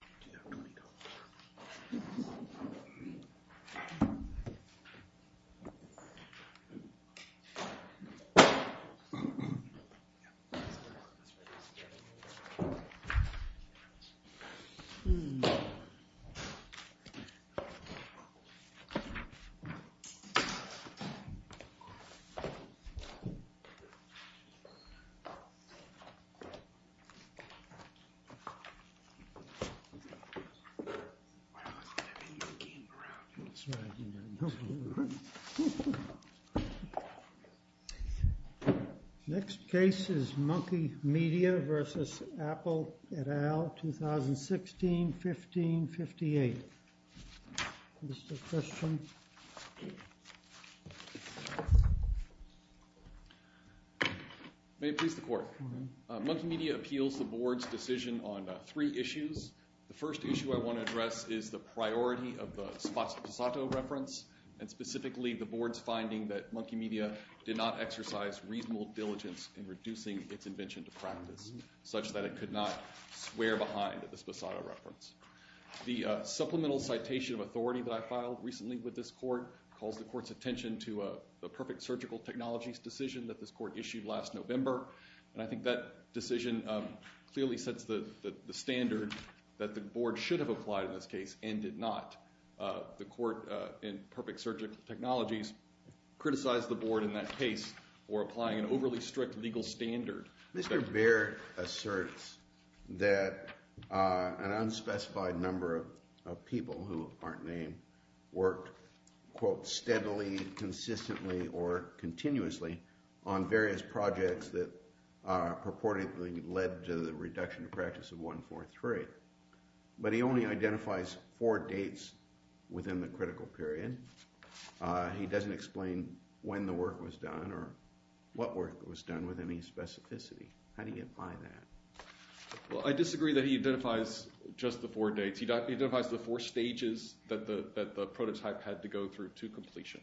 Do you have $20? MonkeyMedia v. Apple et al. 2016-15-58 May it please the court. MonkeyMedia appeals the board's decision on three issues. The first issue I want to address is the priority of the Sposato reference, and specifically the board's finding that MonkeyMedia did not exercise reasonable diligence in reducing its invention to practice, such that it could not swear behind the Sposato reference. The supplemental citation of authority that I filed recently with this court calls the court's attention to the perfect surgical technologies decision that this court issued last November, and I think that decision clearly sets the standard that the board should have applied in this case and did not. The court in perfect surgical technologies criticized the board in that case for applying an overly strict legal standard. Mr. Baird asserts that an unspecified number of people who aren't named worked, quote, steadily, consistently, or continuously on various projects that purportedly led to the reduction to practice of 143. But he only identifies four dates within the critical period. He doesn't explain when the work was done or what work was done with any specificity. How do you get by that? Well, I disagree that he identifies just the four dates. He identifies the four stages that the prototype had to go through to completion.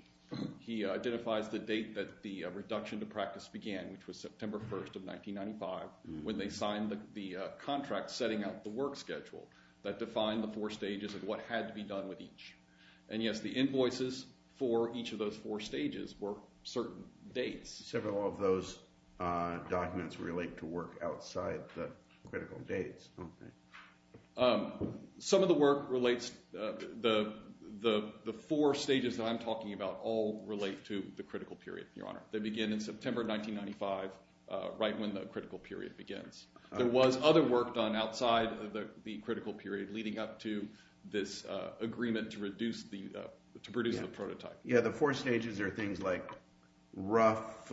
He identifies the date that the reduction to practice began, which was September 1st of 1995, when they signed the contract setting out the work schedule that defined the four stages of what had to be done with each. And yes, the invoices for each of those four stages were certain dates. Several of those documents relate to work outside the critical dates, don't they? Some of the work relates—the four stages that I'm talking about all relate to the critical period, Your Honor. They begin in September 1995, right when the critical period begins. There was other work done outside the critical period leading up to this agreement to reduce the prototype. Yeah, the four stages are things like rough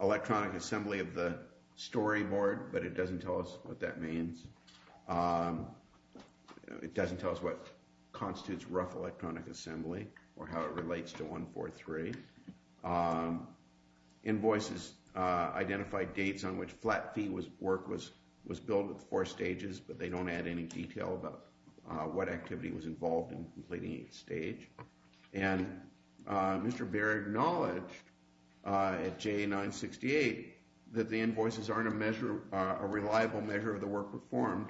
electronic assembly of the storyboard, but it doesn't tell us what that means. It doesn't tell us what constitutes rough electronic assembly or how it relates to 143. Invoices identify dates on which flat fee work was built with four stages, but they don't add any detail about what activity was involved in completing each stage. And Mr. Baer acknowledged at JA-968 that the invoices aren't a measure—a reliable measure of the work performed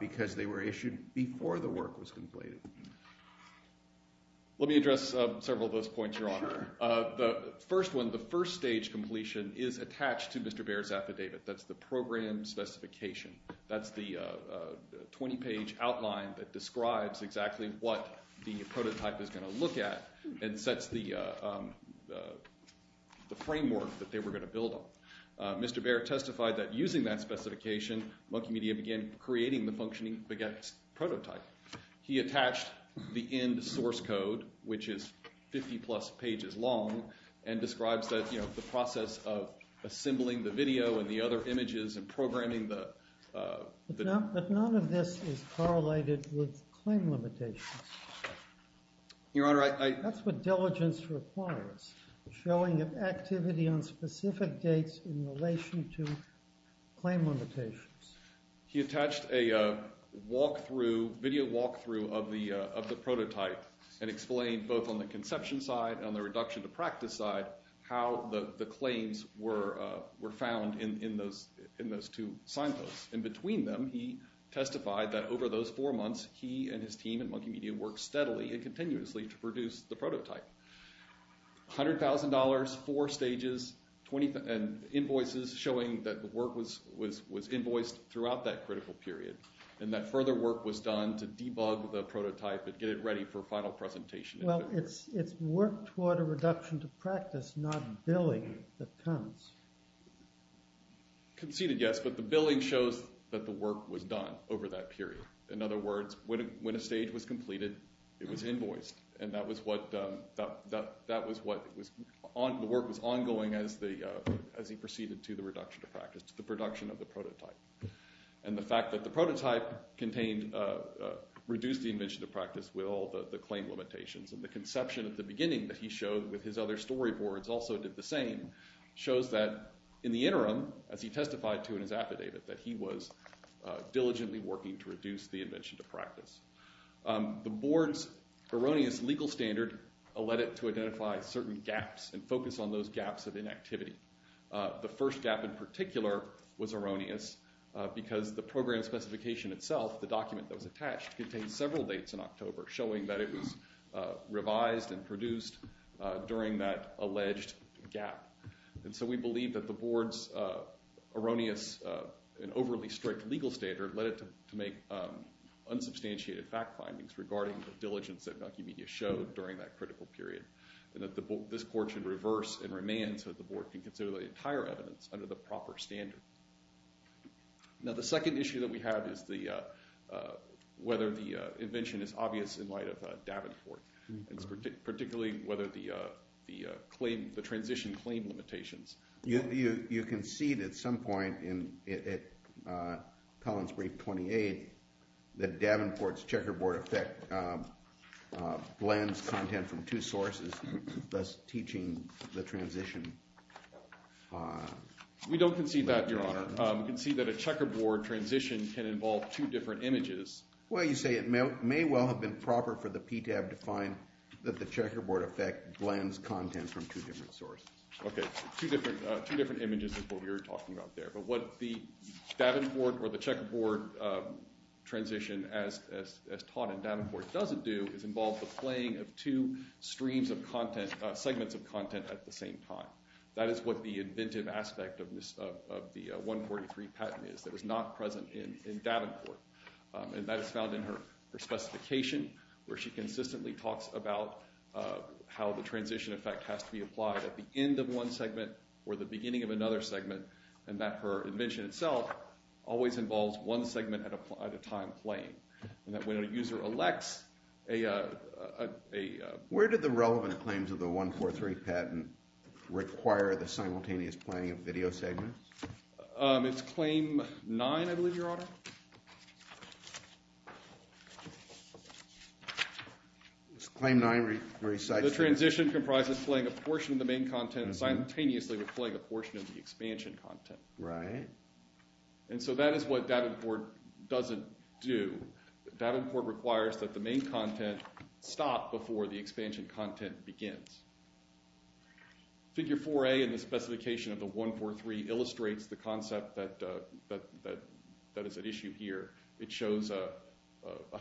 because they were issued before the work was completed. Let me address several of those points, Your Honor. The first one, the first stage completion, is attached to Mr. Baer's affidavit. That's the program specification. That's the 20-page outline that describes exactly what the prototype is going to look at and sets the framework that they were going to build on. Mr. Baer testified that using that specification, Monkey Media began creating the functioning baguette prototype. He attached the end source code, which is 50-plus pages long, and describes the process of assembling the video and the other images and programming the— But none of this is correlated with claim limitations. Your Honor, I— That's what diligence requires, showing an activity on specific dates in relation to claim limitations. He attached a walkthrough, video walkthrough of the prototype and explained both on the conception side and on the reduction to practice side how the claims were found in those two signposts. And between them, he testified that over those four months, he and his team at Monkey Media worked steadily and continuously to produce the prototype. $100,000, four stages, 20— And invoices showing that the work was invoiced throughout that critical period and that further work was done to debug the prototype and get it ready for final presentation. Well, it's work toward a reduction to practice, not billing that comes. Conceded, yes, but the billing shows that the work was done over that period. In other words, when a stage was completed, it was invoiced. And that was what—the work was ongoing as he proceeded to the reduction to practice, to the production of the prototype. And the fact that the prototype contained—reduced the invention to practice with all the claim limitations and the conception at the beginning that he showed with his other storyboards also did the same, shows that in the interim, as he testified to in his affidavit, The board's erroneous legal standard led it to identify certain gaps and focus on those gaps of inactivity. The first gap in particular was erroneous because the program specification itself, the document that was attached, contained several dates in October showing that it was revised and produced during that alleged gap. And so we believe that the board's erroneous and overly strict legal standard led it to make unsubstantiated fact findings regarding the diligence that Mucky Media showed during that critical period, and that this court should reverse and remand so that the board can consider the entire evidence under the proper standard. Now, the second issue that we have is whether the invention is obvious in light of Davenport, and particularly whether the transition claim limitations— You concede at some point in Pellin's brief 28 that Davenport's checkerboard effect blends content from two sources, thus teaching the transition— We don't concede that, Your Honor. We concede that a checkerboard transition can involve two different images. Well, you say it may well have been proper for the PTAB to find that the checkerboard effect blends content from two different sources. Okay, two different images is what we were talking about there. But what the Davenport or the checkerboard transition, as taught in Davenport, doesn't do is involve the playing of two streams of content—segments of content at the same time. That is what the inventive aspect of the 143 patent is that is not present in Davenport. And that is found in her specification, where she consistently talks about how the transition effect has to be applied at the end of one segment or the beginning of another segment, and that her invention itself always involves one segment at a time playing, and that when a user elects a— Where did the relevant claims of the 143 patent require the simultaneous playing of video segments? It's Claim 9, I believe, Your Honor. It's Claim 9 recites— The transition comprises playing a portion of the main content simultaneously with playing a portion of the expansion content. Right. And so that is what Davenport doesn't do. Davenport requires that the main content stop before the expansion content begins. Figure 4A in the specification of the 143 illustrates the concept that is at issue here. It shows a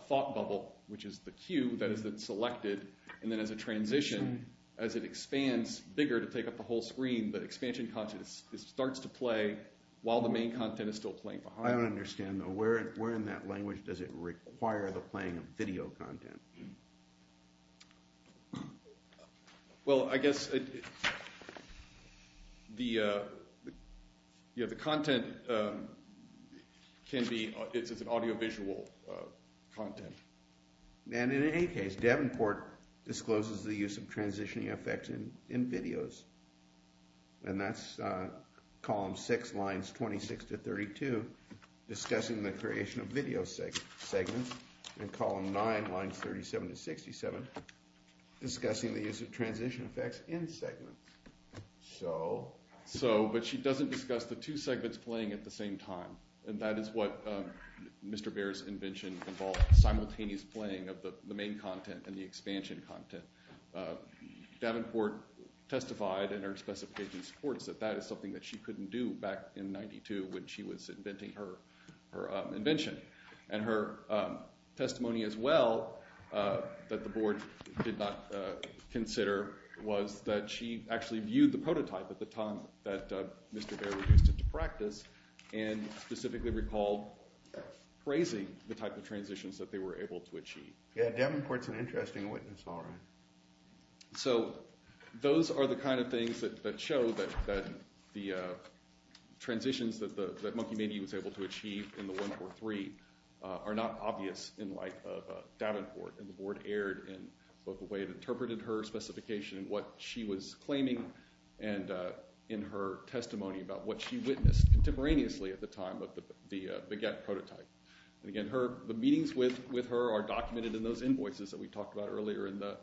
thought bubble, which is the cue that is selected, and then as a transition, as it expands bigger to take up the whole screen, the expansion content starts to play while the main content is still playing behind it. I don't understand, though. Where in that language does it require the playing of video content? Well, I guess the content can be—it's an audiovisual content. And in any case, Davenport discloses the use of transitioning effects in videos, and that's Column 6, Lines 26 to 32, discussing the creation of video segments, and Column 9, Lines 37 to 67, discussing the use of transition effects in segments. So? So, but she doesn't discuss the two segments playing at the same time, and that is what Mr. Baer's invention involved, simultaneous playing of the main content and the expansion content. Davenport testified in her specification supports that that is something that she couldn't do back in 92 when she was inventing her invention. And her testimony as well that the board did not consider was that she actually viewed the prototype at the time that Mr. Baer introduced it to practice, and specifically recalled praising the type of transitions that they were able to achieve. Yeah, Davenport's an interesting witness, all right. So those are the kind of things that show that the transitions that Monkey Mania was able to achieve in the 1-4-3 are not obvious in the life of Davenport, and the board erred in both the way it interpreted her specification and what she was claiming, and in her testimony about what she witnessed contemporaneously at the time of the baguette prototype. And again, the meetings with her are documented in those invoices that we talked about earlier in the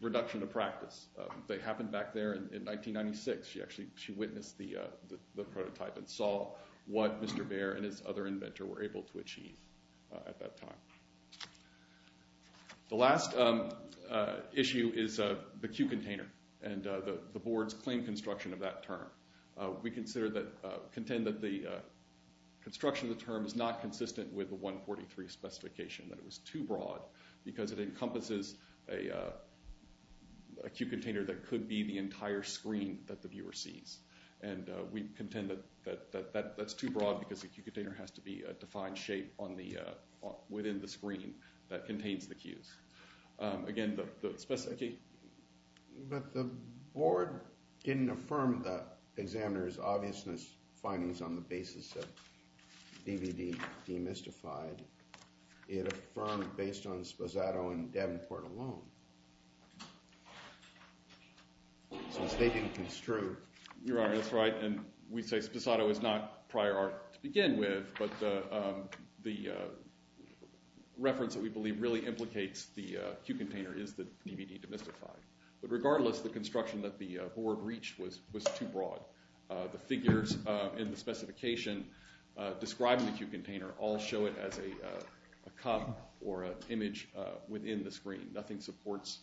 reduction of practice. They happened back there in 1996. She actually witnessed the prototype and saw what Mr. Baer and his other inventor were able to achieve at that time. The last issue is the cube container and the board's claim construction of that term. We contend that the construction of the term is not consistent with the 1-4-3 specification, that it was too broad because it encompasses a cube container that could be the entire screen that the viewer sees. And we contend that that's too broad because the cube container has to be a defined shape within the screen that contains the cubes. Again, the specificity... But the board didn't affirm the examiner's obviousness findings on the basis of DVD demystified. It affirmed based on Sposato and Davenport alone. So the statement is true. Your Honor, that's right, and we say Sposato is not prior art to begin with, but the reference that we believe really implicates the cube container is the DVD demystified. But regardless, the construction that the board reached was too broad. The figures in the specification describing the cube container all show it as a cup or an image within the screen. Nothing supports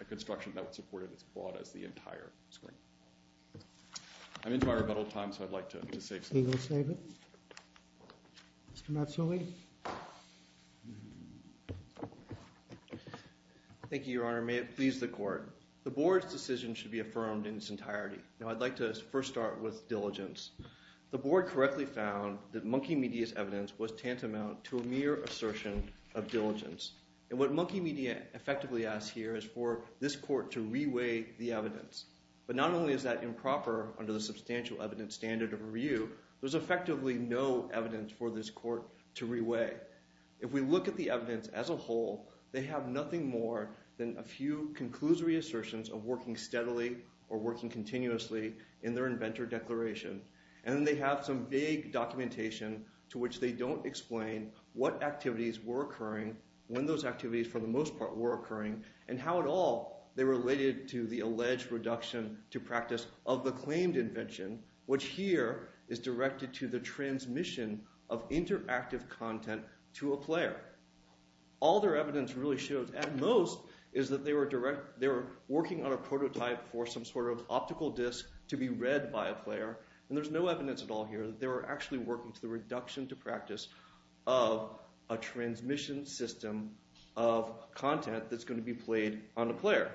a construction that would support it as broad as the entire screen. I'm entirely out of time, so I'd like to save some time. Mr. Matsui? Thank you, Your Honor. May it please the Court. The board's decision should be affirmed in its entirety. Now, I'd like to first start with diligence. The board correctly found that Monkey Media's evidence was tantamount to a mere assertion of diligence. And what Monkey Media effectively asks here is for this court to reweigh the evidence. But not only is that improper under the substantial evidence standard of review, there's effectively no evidence for this court to reweigh. If we look at the evidence as a whole, they have nothing more than a few conclusory assertions of working steadily or working continuously in their inventor declaration. And then they have some vague documentation to which they don't explain what activities were occurring, when those activities, for the most part, were occurring, and how at all they related to the alleged reduction to practice of the claimed invention, which here is directed to the transmission of interactive content to a player. All their evidence really shows, at most, is that they were working on a prototype for some sort of optical disc to be read by a player. And there's no evidence at all here that they were actually working to the reduction to practice of a transmission system of content that's going to be played on a player.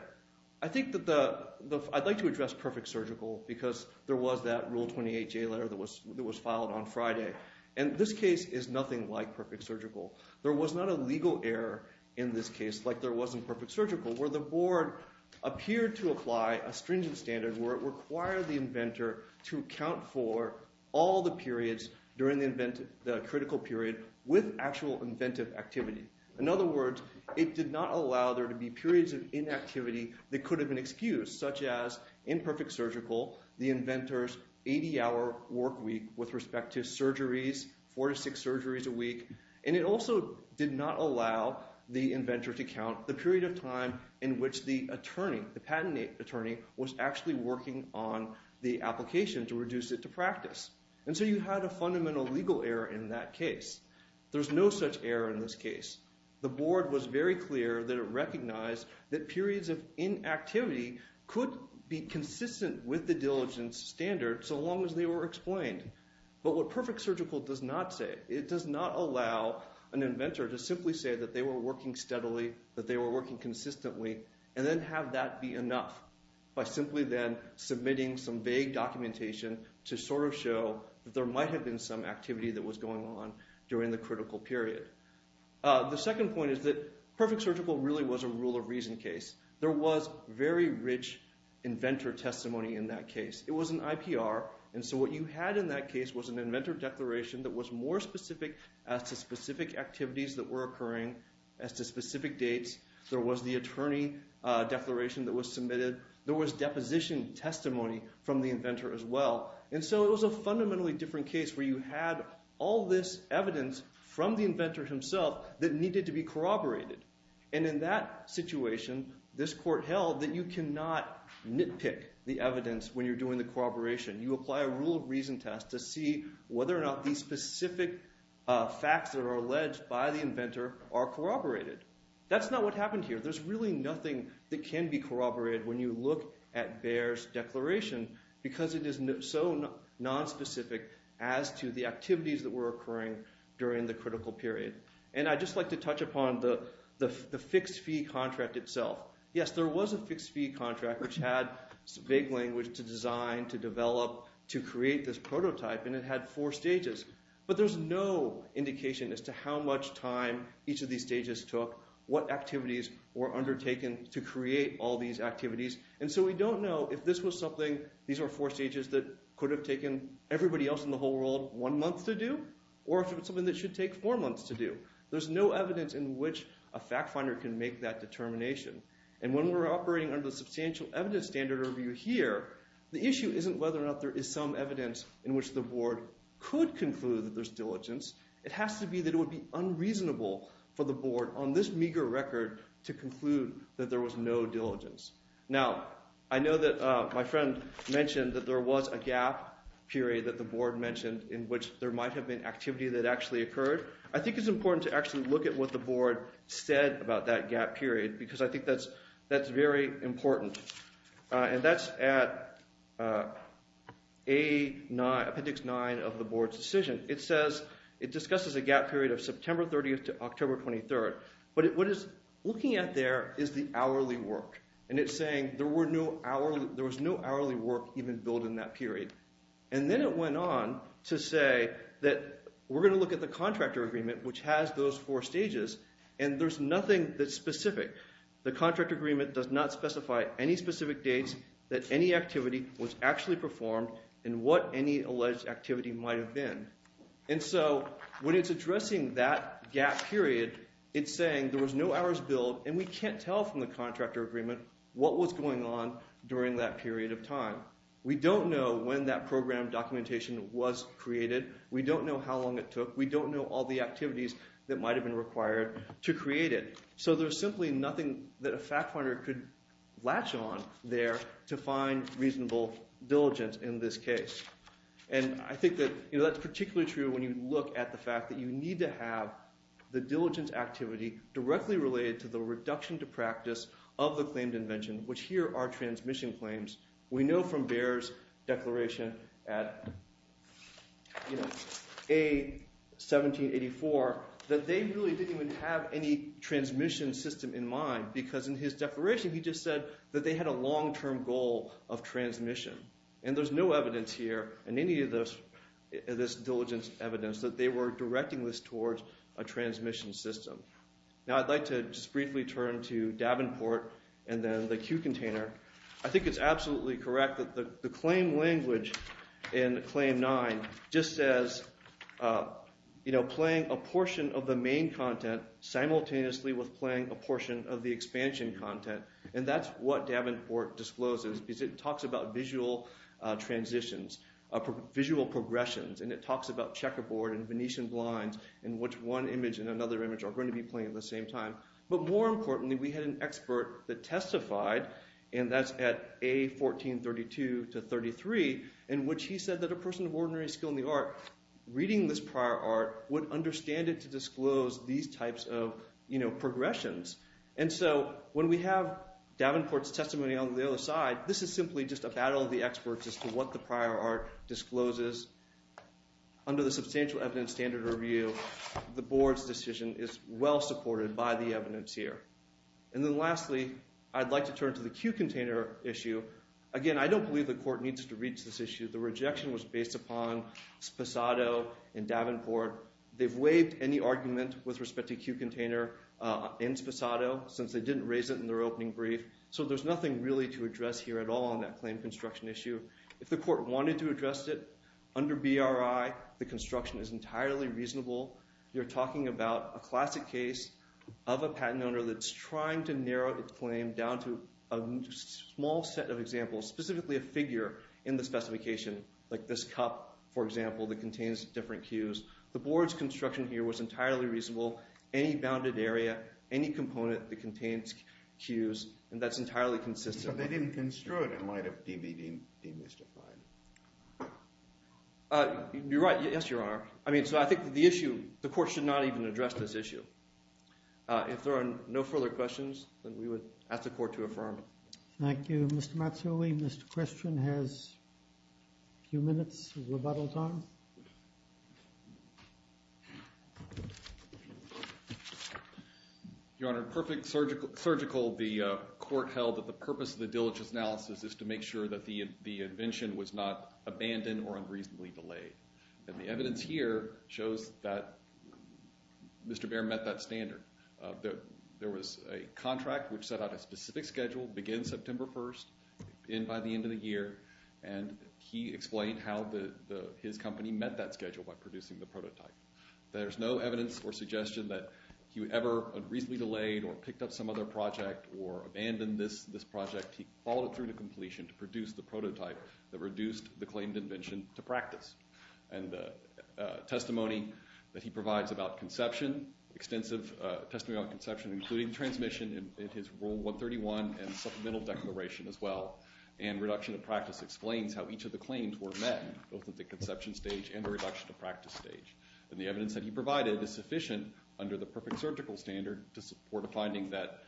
I'd like to address Perfect Surgical because there was that Rule 28 J letter that was filed on Friday. And this case is nothing like Perfect Surgical. There was not a legal error in this case like there was in Perfect Surgical, where the board appeared to apply a stringent standard where it required the inventor to account for all the periods during the critical period with actual inventive activity. In other words, it did not allow there to be periods of inactivity that could have been excused, such as in Perfect Surgical, the inventor's 80-hour work week with respect to surgeries, four to six surgeries a week. And it also did not allow the inventor to count the period of time in which the attorney, the patent attorney, was actually working on the application to reduce it to practice. And so you had a fundamental legal error in that case. There's no such error in this case. The board was very clear that it recognized that periods of inactivity could be consistent with the diligence standard so long as they were explained. But what Perfect Surgical does not say, it does not allow an inventor to simply say that they were working steadily, that they were working consistently, and then have that be enough by simply then submitting some vague documentation to sort of show that there might have been some activity that was going on during the critical period. The second point is that Perfect Surgical really was a rule of reason case. There was very rich inventor testimony in that case. It was an IPR. And so what you had in that case was an inventor declaration that was more specific as to specific activities that were occurring as to specific dates. There was the attorney declaration that was submitted. There was deposition testimony from the inventor as well. And so it was a fundamentally different case where you had all this evidence from the inventor himself that needed to be corroborated. And in that situation, this court held that you cannot nitpick the evidence when you're doing the corroboration. You apply a rule of reason test to see whether or not these specific facts that are alleged by the inventor are corroborated. That's not what happened here. There's really nothing that can be corroborated when you look at Bayer's declaration because it is so nonspecific as to the activities that were occurring during the critical period. And I'd just like to touch upon the fixed fee contract itself. Yes, there was a fixed fee contract which had vague language to design, to develop, to create this prototype, and it had four stages. But there's no indication as to how much time each of these stages took, what activities were undertaken to create all these activities. And so we don't know if this was something – these are four stages that could have taken everybody else in the whole world one month to do or if it was something that should take four months to do. There's no evidence in which a fact finder can make that determination. And when we're operating under the substantial evidence standard review here, the issue isn't whether or not there is some evidence in which the board could conclude that there's diligence. It has to be that it would be unreasonable for the board on this meager record to conclude that there was no diligence. Now, I know that my friend mentioned that there was a gap period that the board mentioned in which there might have been activity that actually occurred. I think it's important to actually look at what the board said about that gap period because I think that's very important. And that's at Appendix 9 of the board's decision. It says it discusses a gap period of September 30th to October 23rd. But what it's looking at there is the hourly work, and it's saying there was no hourly work even built in that period. And then it went on to say that we're going to look at the contractor agreement, which has those four stages, and there's nothing that's specific. The contractor agreement does not specify any specific dates that any activity was actually performed and what any alleged activity might have been. And so when it's addressing that gap period, it's saying there was no hours built, and we can't tell from the contractor agreement what was going on during that period of time. We don't know when that program documentation was created. We don't know how long it took. We don't know all the activities that might have been required to create it. So there's simply nothing that a fact finder could latch on there to find reasonable diligence in this case. And I think that that's particularly true when you look at the fact that you need to have the diligence activity directly related to the reduction to practice of the claimed invention, which here are transmission claims. We know from Baer's declaration at A1784 that they really didn't even have any transmission system in mind because in his declaration he just said that they had a long-term goal of transmission. And there's no evidence here in any of this diligence evidence that they were directing this towards a transmission system. Now I'd like to just briefly turn to Davenport and then the Q container. I think it's absolutely correct that the claim language in Claim 9 just says playing a portion of the main content simultaneously with playing a portion of the expansion content. And that's what Davenport discloses because it talks about visual transitions, visual progressions, and it talks about checkerboard and Venetian blinds in which one image and another image are going to be playing at the same time. But more importantly, we had an expert that testified, and that's at A1432-33, in which he said that a person of ordinary skill in the art reading this prior art would understand it to disclose these types of progressions. And so when we have Davenport's testimony on the other side, this is simply just a battle of the experts as to what the prior art discloses. Under the substantial evidence standard review, the board's decision is well supported by the evidence here. And then lastly, I'd like to turn to the Q container issue. Again, I don't believe the court needs to reach this issue. The rejection was based upon Sposado and Davenport. They've waived any argument with respect to Q container in Sposado since they didn't raise it in their opening brief. So there's nothing really to address here at all on that claim construction issue. If the court wanted to address it under BRI, the construction is entirely reasonable. You're talking about a classic case of a patent owner that's trying to narrow its claim down to a small set of examples, specifically a figure in the specification, like this cup, for example, that contains different Qs. The board's construction here was entirely reasonable, any bounded area, any component that contains Qs, and that's entirely consistent. But they didn't construe it in light of DBD demystified. You're right. Yes, Your Honor. I mean, so I think the issue, the court should not even address this issue. If there are no further questions, then we would ask the court to affirm. Thank you. Mr. Matsui, Mr. Christian has a few minutes of rebuttal time. Your Honor, in perfect surgical, the court held that the purpose of the diligence analysis is to make sure that the invention was not abandoned or unreasonably delayed. And the evidence here shows that Mr. Baer met that standard. There was a contract which set out a specific schedule, begin September 1, end by the end of the year, and he explained how his company met that schedule by producing the prototype. There's no evidence or suggestion that he ever unreasonably delayed or picked up some other project or abandoned this project. He followed it through to completion to produce the prototype that reduced the claimed invention to practice. And the testimony that he provides about conception, extensive testimony about conception, including transmission in his Rule 131 and supplemental declaration as well, and reduction of practice explains how each of the claims were met, both at the conception stage and the reduction of practice stage. And the evidence that he provided is sufficient under the perfect surgical standard to support a finding that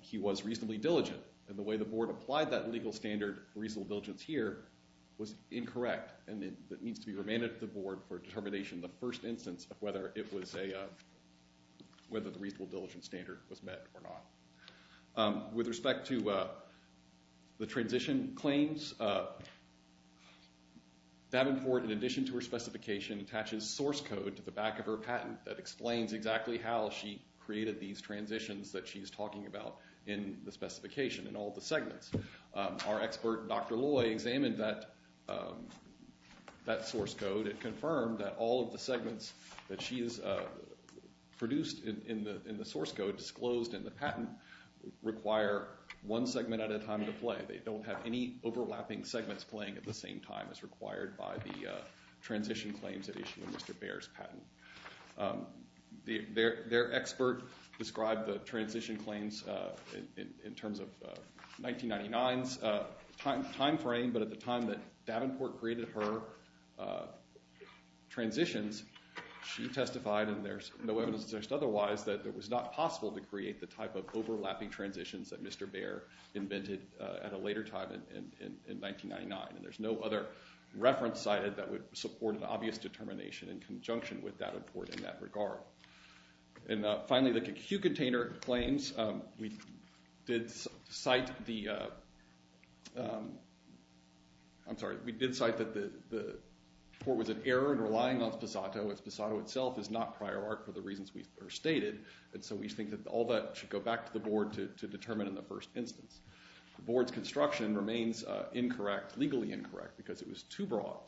he was reasonably diligent. And the way the board applied that legal standard, reasonable diligence here, was incorrect. And it needs to be remanded to the board for determination the first instance of whether it was a—whether the reasonable diligence standard was met or not. With respect to the transition claims, Davenport, in addition to her specification, attaches source code to the back of her patent that explains exactly how she created these transitions that she's talking about in the specification and all the segments. Our expert, Dr. Loy, examined that source code. It confirmed that all of the segments that she has produced in the source code disclosed in the patent require one segment at a time to play. They don't have any overlapping segments playing at the same time as required by the transition claims that issue in Mr. Baer's patent. Their expert described the transition claims in terms of 1999's timeframe. But at the time that Davenport created her transitions, she testified, and there's no evidence to suggest otherwise, that it was not possible to create the type of overlapping transitions that Mr. Baer invented at a later time in 1999. And there's no other reference cited that would support an obvious determination in conjunction with Davenport in that regard. And finally, the Q container claims, we did cite the—I'm sorry, we did cite that the report was an error in relying on Sposato. Sposato itself is not prior art for the reasons we first stated, and so we think that all that should go back to the board to determine in the first instance. The board's construction remains incorrect, legally incorrect, because it was too broad.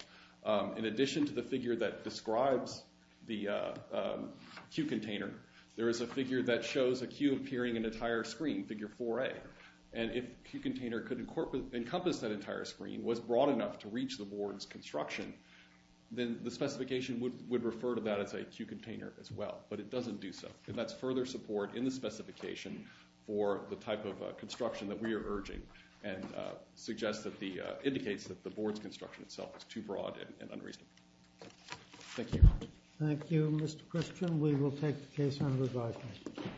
In addition to the figure that describes the Q container, there is a figure that shows a Q appearing in an entire screen, figure 4A. And if the Q container could encompass that entire screen, was broad enough to reach the board's construction, then the specification would refer to that as a Q container as well, but it doesn't do so. And that's further support in the specification for the type of construction that we are urging and suggests that the—indicates that the board's construction itself is too broad and unreasonable. Thank you. Thank you, Mr. Christian. We will take the case under review.